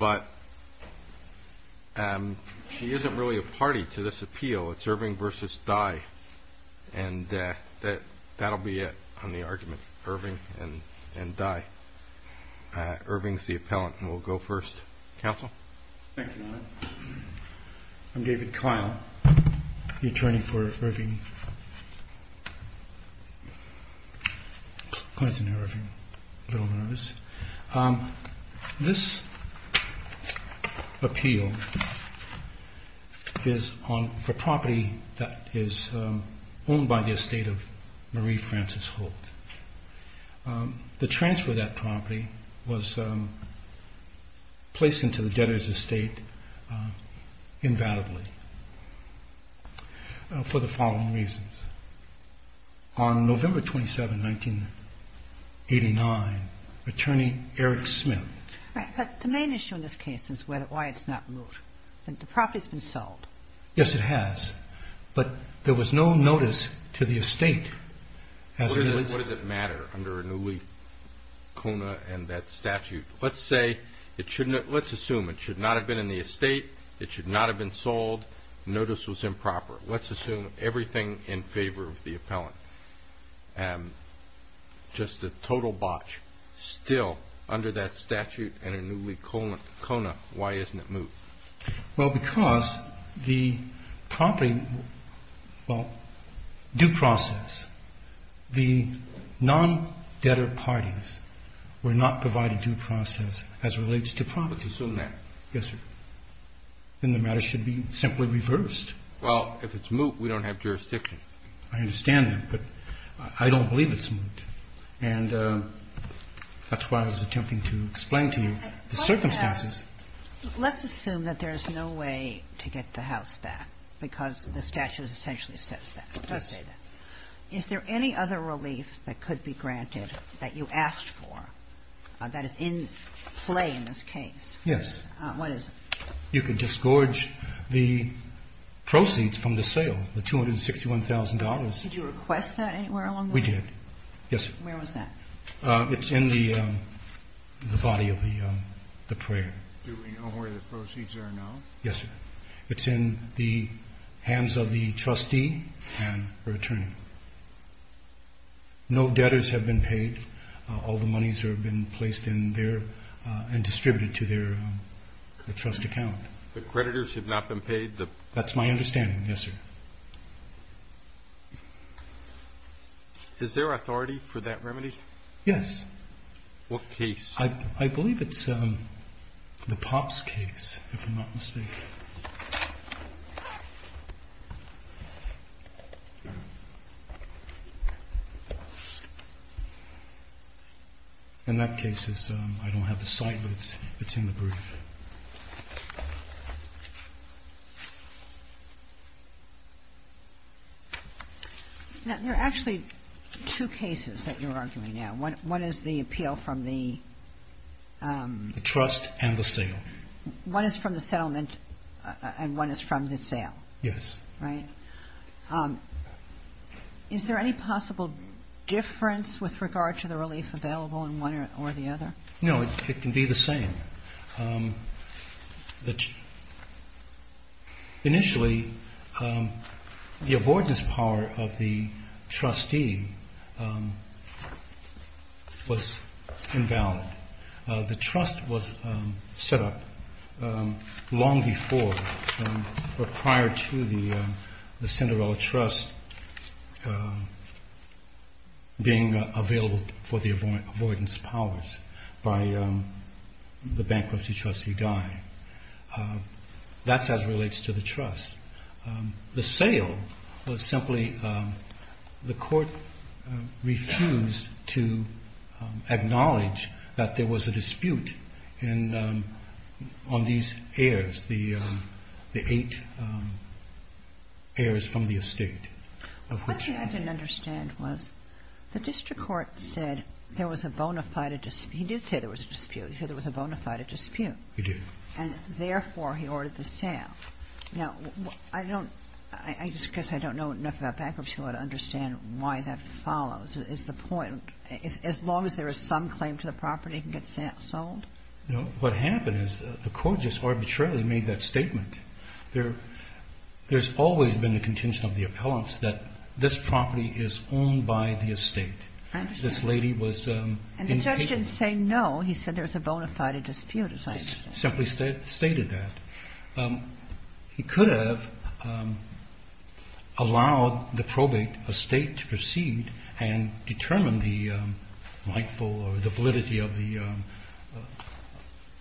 I'm David Klein, the attorney for Irving, Clinton Irving, Little Nose. This appeal is for property that is owned by the estate of Marie Francis Holt. The transfer of that property was placed into the debtor's estate invalidly for the following reasons. On November 27, 1989, attorney Eric Smith. But the main issue in this case is why it's not moved. The property's been sold. Yes, it has. But there was no notice to the estate. What does it matter under a newly Kona and that statute? Let's assume it should not have been in the estate, it should not have been sold, notice was improper. Let's assume everything in favor of the appellant. Just a total botch still under that statute and a newly Kona. Why isn't it moved? Well, because the property, well, due process, the non-debtor parties were not provided due process as relates to property. Let's assume that. Yes, sir. Then the matter should be simply reversed. Well, if it's moved, we don't have jurisdiction. I understand that, but I don't believe it's moved. And that's why I was attempting to explain to you the circumstances. Let's assume that there is no way to get the house back because the statute essentially says that. Is there any other relief that could be granted that you asked for that is in play in this case? Yes. What is it? You can disgorge the proceeds from the sale, the $261,000. Did you request that anywhere along? We did. Yes. Where was that? It's in the body of the prayer. Do we know where the proceeds are now? Yes, sir. It's in the hands of the trustee and her attorney. No debtors have been paid. All the monies have been placed in there and distributed to their trust account. The creditors have not been paid? That's my understanding. Yes, sir. Is there authority for that remedy? Yes. What case? I believe it's the Pops case, if I'm not mistaken. In that case, I don't have the site, but it's in the brief. There are actually two cases that you're arguing now. One is the appeal from the ---- The trust and the sale. One is from the settlement and one is from the sale. Yes. Right? Is there any possible difference with regard to the relief available in one or the other? No, it can be the same. Initially, the avoidance power of the trustee was invalid. The trust was set up long before or prior to the Cinderella Trust being available for the avoidance powers by the bankruptcy trustee Guy. That's as it relates to the trust. The sale was simply the court refused to acknowledge that there was a dispute on these heirs, the eight heirs from the estate. The question I didn't understand was the district court said there was a bona fide dispute. He did say there was a dispute. He said there was a bona fide dispute. He did. And therefore, he ordered the sale. Now, I don't ---- I guess I don't know enough about bankruptcy law to understand why that follows. Is the point, as long as there is some claim to the property, it can get sold? No. What happened is the court just arbitrarily made that statement. There's always been the contention of the appellants that this property is owned by the estate. This lady was incapable. And the judge didn't say no. He said there was a bona fide dispute. He simply stated that. He could have allowed the probate estate to proceed and determine the rightful or the validity of the ----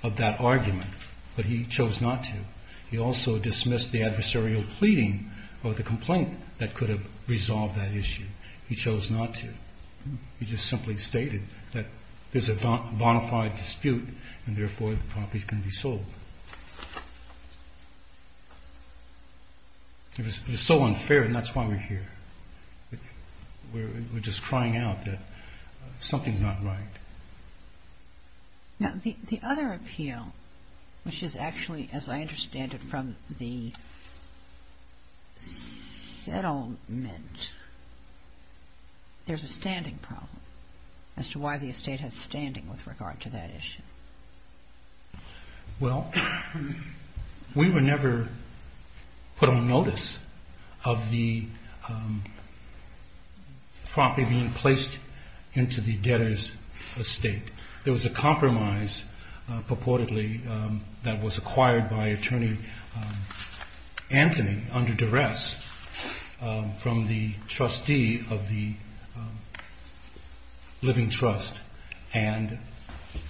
of that argument. But he chose not to. He also dismissed the adversarial pleading or the complaint that could have resolved that issue. He chose not to. He just simply stated that there's a bona fide dispute. And therefore, the property can be sold. It was so unfair, and that's why we're here. We're just crying out that something's not right. Now, the other appeal, which is actually, as I understand it, from the settlement, there's a standing problem as to why the estate has standing with regard to that issue. Well, we were never put on notice of the property being placed into the debtor's estate. There was a compromise purportedly that was acquired by Attorney Anthony under duress from the trustee of the living trust. And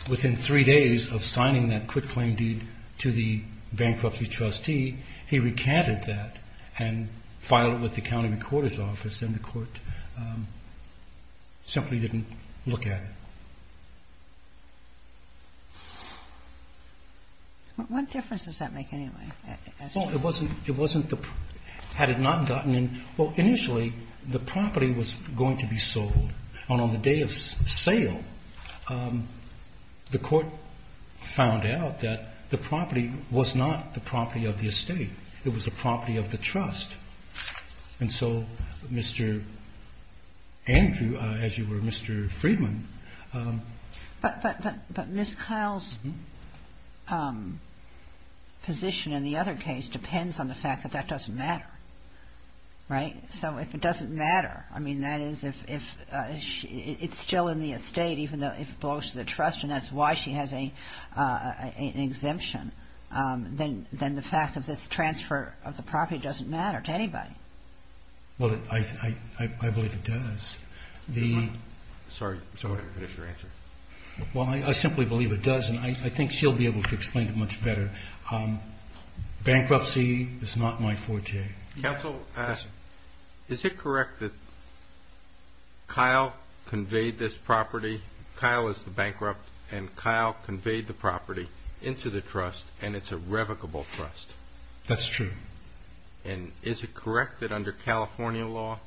within three days of signing that quick claim deed to the bankruptcy trustee, he recanted that and filed it with the county recorder's office. And the court simply didn't look at it. What difference does that make anyway? Well, it wasn't the ---- had it not gotten in ---- well, initially, the property was going to be sold. And on the day of sale, the court found out that the property was not the property of the estate. It was the property of the trust. And so Mr. Andrew, as you were, Mr. Friedman ---- But Ms. Kyle's position in the other case depends on the fact that that doesn't matter, right? So if it doesn't matter, I mean, that is if it's still in the estate even though it belongs to the trust and that's why she has an exemption, then the fact of this transfer of the property doesn't matter to anybody. Well, I believe it does. Sorry. Go ahead and finish your answer. Well, I simply believe it does, and I think she'll be able to explain it much better. Bankruptcy is not my forte. Counsel, is it correct that Kyle conveyed this property, Kyle is the bankrupt, and Kyle conveyed the property into the trust and it's a revocable trust? That's true. And is it correct that under California law,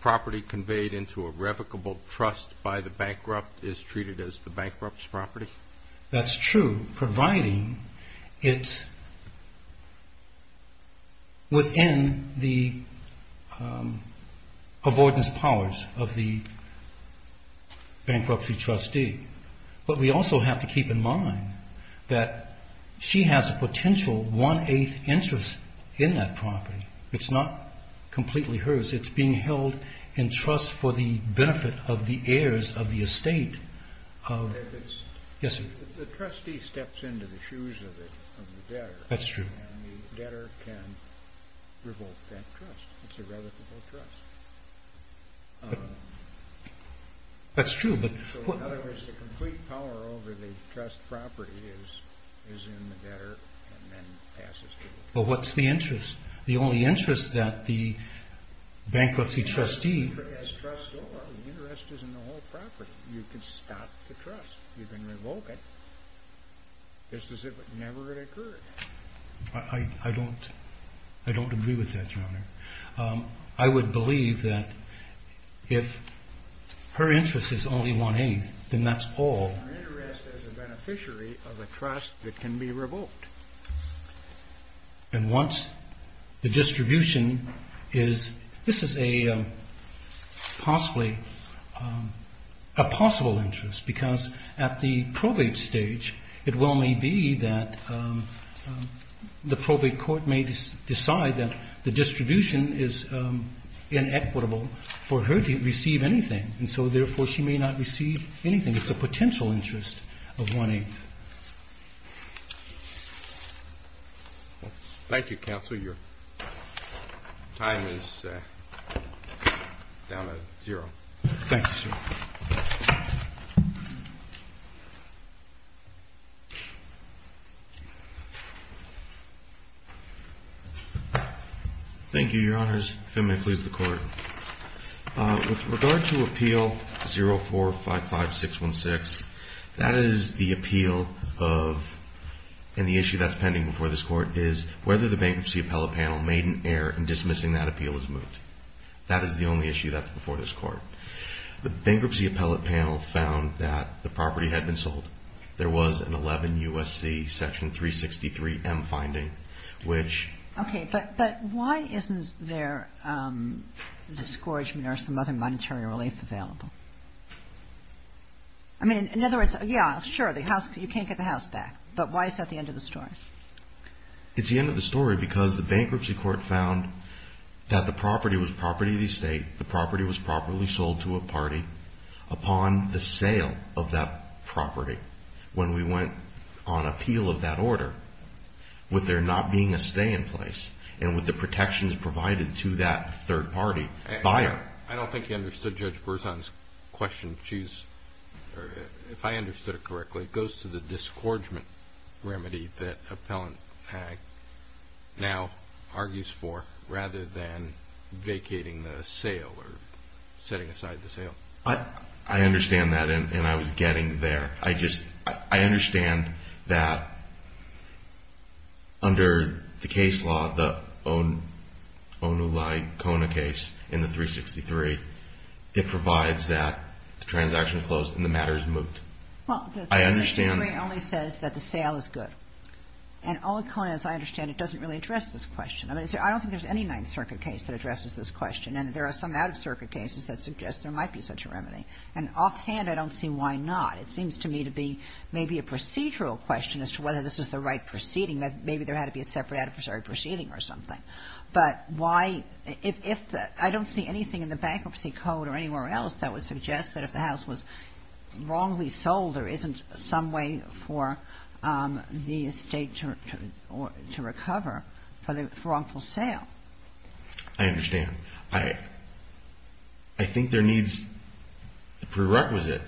property conveyed into a revocable trust by the bankrupt is treated as the bankrupt's property? That's true, providing it's within the avoidance powers of the bankruptcy trustee. But we also have to keep in mind that she has a potential one-eighth interest in that property. It's not completely hers. It's being held in trust for the benefit of the heirs of the estate. Yes, sir. The trustee steps into the shoes of the debtor. That's true. And the debtor can revoke that trust. It's a revocable trust. That's true. In other words, the complete power over the trust property is in the debtor and then passes to the trustee. Well, what's the interest? The only interest that the bankruptcy trustee has. The interest is in the whole property. You can stop the trust. You can revoke it just as if it never had occurred. I don't agree with that, Your Honor. I would believe that if her interest is only one-eighth, then that's all. And once the distribution is this is a possibly a possible interest because at the probate stage, it well may be that the probate court may decide that the distribution is inequitable for her to receive anything. And so, therefore, she may not receive anything. It's a potential interest of one-eighth. Thank you, Counsel. Your time is down to zero. Thank you, sir. Thank you, Your Honors. If I may please the Court. With regard to Appeal 0455616, that is the appeal of, and the issue that's pending before this Court, is whether the Bankruptcy Appellate Panel made an error in dismissing that appeal as moot. That is the only issue that's before this Court. The Bankruptcy Appellate Panel found that the property had been sold. There was an 11 U.S.C. Section 363M finding, which Okay. But why isn't there discouragement or some other monetary relief available? I mean, in other words, yeah, sure, the house, you can't get the house back. But why is that the end of the story? It's the end of the story because the Bankruptcy Court found that the property was property of the estate. The property was properly sold to a party upon the sale of that property. When we went on appeal of that order, with there not being a stay in place and with the protections provided to that third party buyer. I don't think you understood Judge Berzon's question. If I understood it correctly, it goes to the discouragement remedy that Appellant Hagg now argues for rather than vacating the sale or setting aside the sale. I understand that, and I was getting there. I just, I understand that under the case law, the Onuli-Kona case in the 363, it provides that the transaction is closed and the matter is moved. Well, the 363 only says that the sale is good. And Onuli-Kona, as I understand it, doesn't really address this question. I mean, I don't think there's any Ninth Circuit case that addresses this question. And there are some Out-of-Circuit cases that suggest there might be such a remedy. And offhand, I don't see why not. It seems to me to be maybe a procedural question as to whether this is the right proceeding. Maybe there had to be a separate adversary proceeding or something. But why – if the – I don't see anything in the Bankruptcy Code or anywhere else that would suggest that if the house was wrongly sold, there isn't some way for the estate to recover for the – for wrongful sale. I understand. I think there needs a prerequisite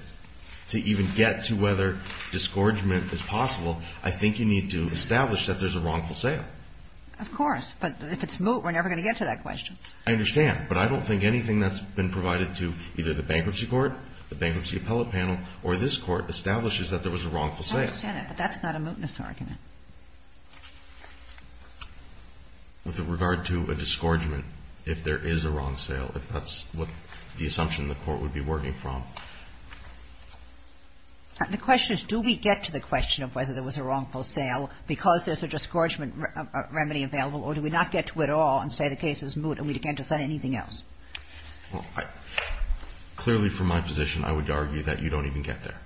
to even get to whether disgorgement is possible. I think you need to establish that there's a wrongful sale. Of course. But if it's moot, we're never going to get to that question. I understand. But I don't think anything that's been provided to either the Bankruptcy Court, the Bankruptcy Appellate Panel, or this Court establishes that there was a wrongful sale. I understand that. But that's not a mootness argument. With regard to a disgorgement, if there is a wrong sale, if that's what the assumption the Court would be working from. The question is, do we get to the question of whether there was a wrongful sale because there's a disgorgement remedy available, or do we not get to it at all and say the case is moot and we can't decide anything else? Clearly, from my position, I would argue that you don't even get there.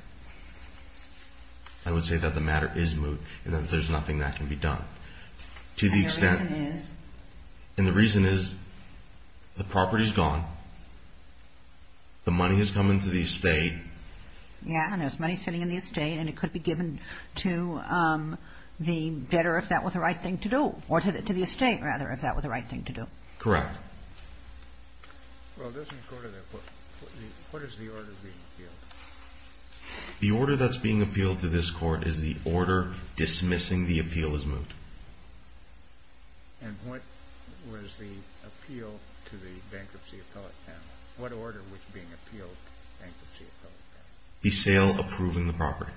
I would say that the matter is moot and that there's nothing that can be done. And the reason is? And the reason is the property is gone, the money is coming to the estate. Yeah, and there's money sitting in the estate and it could be given to the debtor if that was the right thing to do. Or to the estate, rather, if that was the right thing to do. Correct. Well, it doesn't go to that point. What is the order being appealed? The order that's being appealed to this Court is the order dismissing the appeal as moot. And what was the appeal to the bankruptcy appellate panel? What order was being appealed to the bankruptcy appellate panel? The sale approving the property.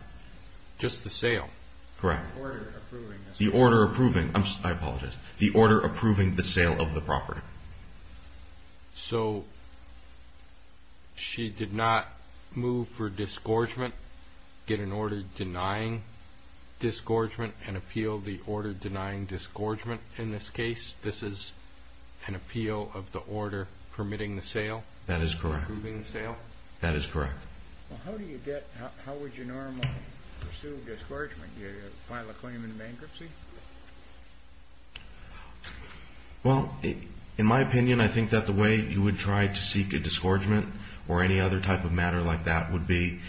Just the sale? Correct. The order approving the sale. The order approving. I apologize. The order approving the sale of the property. So she did not move for disgorgement, get an order denying disgorgement, and appeal the order denying disgorgement in this case? This is an appeal of the order permitting the sale? That is correct. Approving the sale? That is correct. Well, how would you normally pursue a disgorgement? You file a claim in bankruptcy? Well, in my opinion, I think that the way you would try to seek a disgorgement or any other type of matter like that would be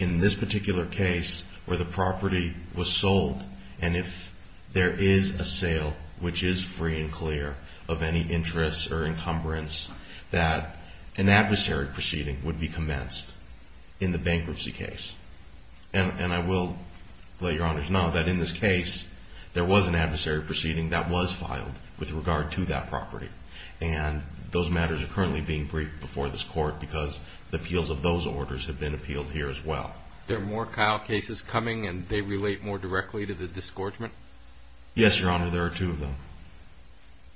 in this particular case where the property was sold and if there is a sale, which is free and clear of any interests or encumbrance, that an adversary proceeding would be commenced in the bankruptcy case. And I will let your honors know that in this case, there was an adversary proceeding that was filed with regard to that property. And those matters are currently being briefed before this court because the appeals of those orders have been appealed here as well. There are more Kyle cases coming and they relate more directly to the disgorgement? Yes, your honor, there are two of them.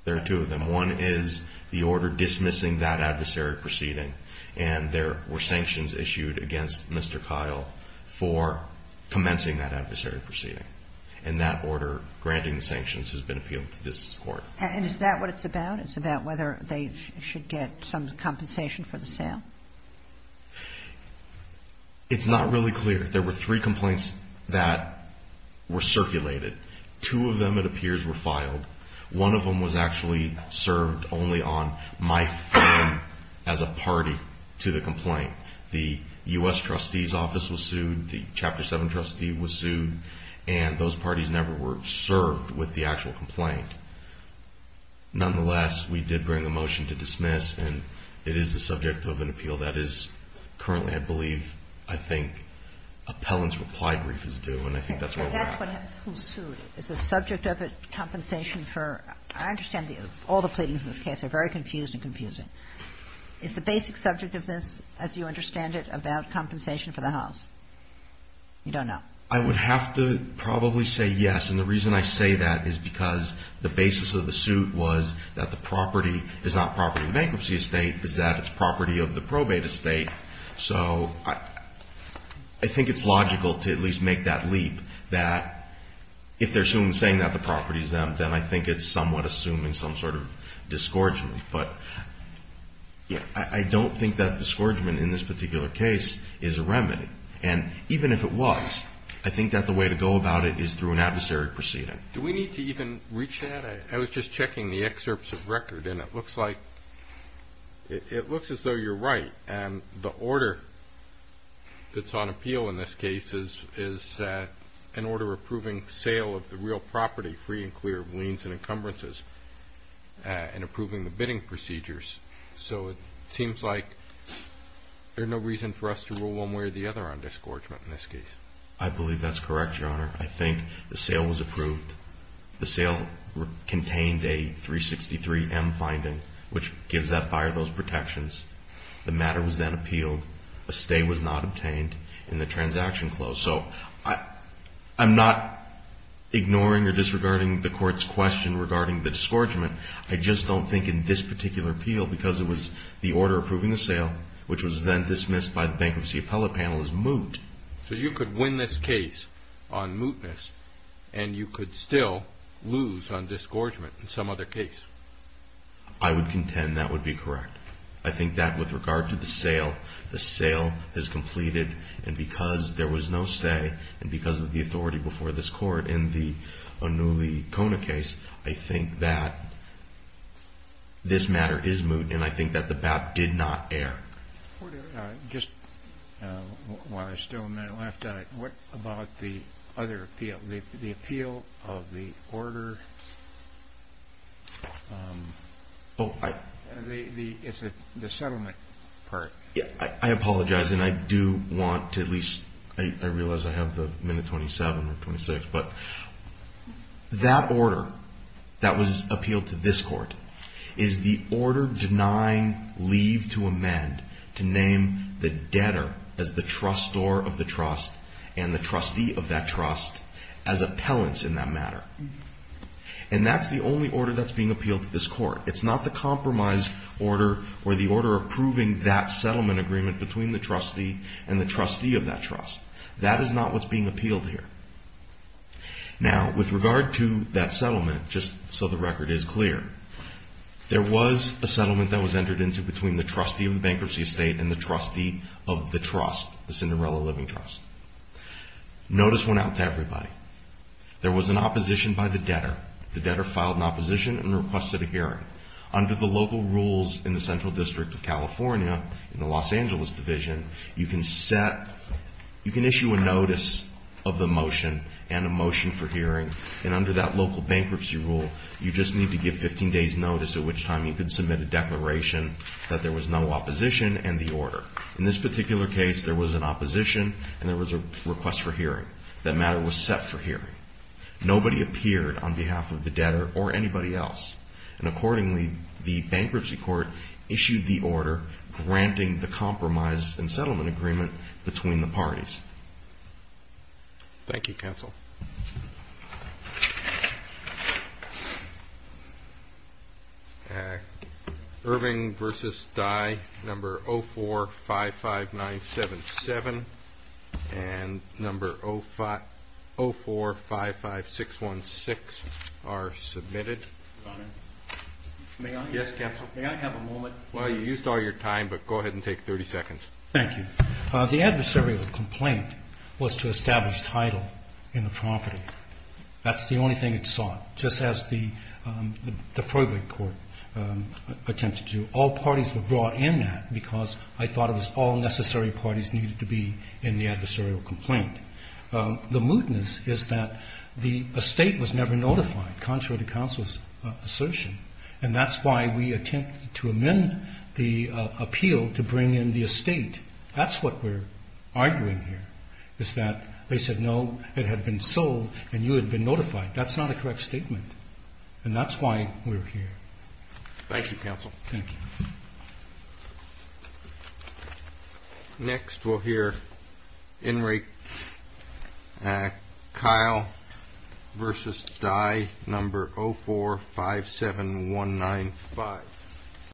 There are two of them. One is the order dismissing that adversary proceeding and there were sanctions issued against Mr. Kyle for commencing that adversary proceeding. And that order granting the sanctions has been appealed to this court. And is that what it's about? It's about whether they should get some compensation for the sale? It's not really clear. There were three complaints that were circulated. Two of them, it appears, were filed. One of them was actually served only on my firm as a party to the complaint. The U.S. trustee's office was sued. The Chapter 7 trustee was sued. And those parties never were served with the actual complaint. Nonetheless, we did bring a motion to dismiss. And it is the subject of an appeal that is currently, I believe, I think appellant's reply brief is due. And I think that's where we're at. Kagan. Is the subject of a compensation for, I understand all the pleadings in this case are very confused and confusing. Is the basic subject of this, as you understand it, about compensation for the house? You don't know. I would have to probably say yes. And the reason I say that is because the basis of the suit was that the property is not property of the bankruptcy estate, is that it's property of the probate estate. So I think it's logical to at least make that leap that if they're soon saying that the property is them, then I think it's somewhat assuming some sort of disgorgement. But I don't think that disgorgement in this particular case is a remedy. And even if it was, I think that the way to go about it is through an adversary proceeding. Do we need to even reach that? I was just checking the excerpts of record. And it looks like it looks as though you're right. And the order that's on appeal in this case is an order approving sale of the real property, free and clear of liens and encumbrances, and approving the bidding procedures. So it seems like there's no reason for us to rule one way or the other on disgorgement in this case. I believe that's correct, Your Honor. I think the sale was approved. The sale contained a 363M finding, which gives that buyer those protections. The matter was then appealed. A stay was not obtained, and the transaction closed. So I'm not ignoring or disregarding the Court's question regarding the disgorgement. I just don't think in this particular appeal, because it was the order approving the sale, which was then dismissed by the Bankruptcy Appellate Panel as moot. So you could win this case on mootness, and you could still lose on disgorgement in some other case. I would contend that would be correct. I think that with regard to the sale, the sale is completed, and because there was no stay and because of the authority before this Court in the Anuli Kona case, I think that this matter is moot, and I think that the bat did not err. Just while I still have a minute left, what about the other appeal, the appeal of the order? It's the settlement part. I apologize, and I do want to at least – I realize I have the minute 27 or 26, but that order that was appealed to this Court is the order denying leave to amend to name the debtor as the trustor of the trust and the trustee of that trust as appellants in that matter. And that's the only order that's being appealed to this Court. It's not the compromise order or the order approving that settlement agreement between the trustee and the trustee of that trust. That is not what's being appealed here. Now, with regard to that settlement, just so the record is clear, there was a settlement that was entered into between the trustee of the bankruptcy estate and the trustee of the trust, the Cinderella Living Trust. Notice went out to everybody. There was an opposition by the debtor. The debtor filed an opposition and requested a hearing. Under the local rules in the Central District of California, in the Los Angeles Division, you can set – you can issue a notice of the motion and a motion for hearing, and under that local bankruptcy rule, you just need to give 15 days' notice at which time you can submit a declaration that there was no opposition and the order. In this particular case, there was an opposition and there was a request for hearing. That matter was set for hearing. Nobody appeared on behalf of the debtor or anybody else. Accordingly, the bankruptcy court issued the order granting the compromise and settlement agreement between the parties. Thank you, counsel. Irving v. Dye, number 0455977 and number 0455616 are submitted. May I have a moment? Well, you used all your time, but go ahead and take 30 seconds. Thank you. The adversarial complaint was to establish title in the property. That's the only thing it sought, just as the probate court attempted to. All parties were brought in that, because I thought it was all necessary parties needed to be in the adversarial complaint. The mootness is that the estate was never notified, contrary to counsel's assertion, and that's why we attempted to amend the appeal to bring in the estate. That's what we're arguing here, is that they said, no, it had been sold and you had been notified. That's not a correct statement. And that's why we're here. Thank you, counsel. Thank you. Next we'll hear Enric Kyle v. Dye, number 0457195.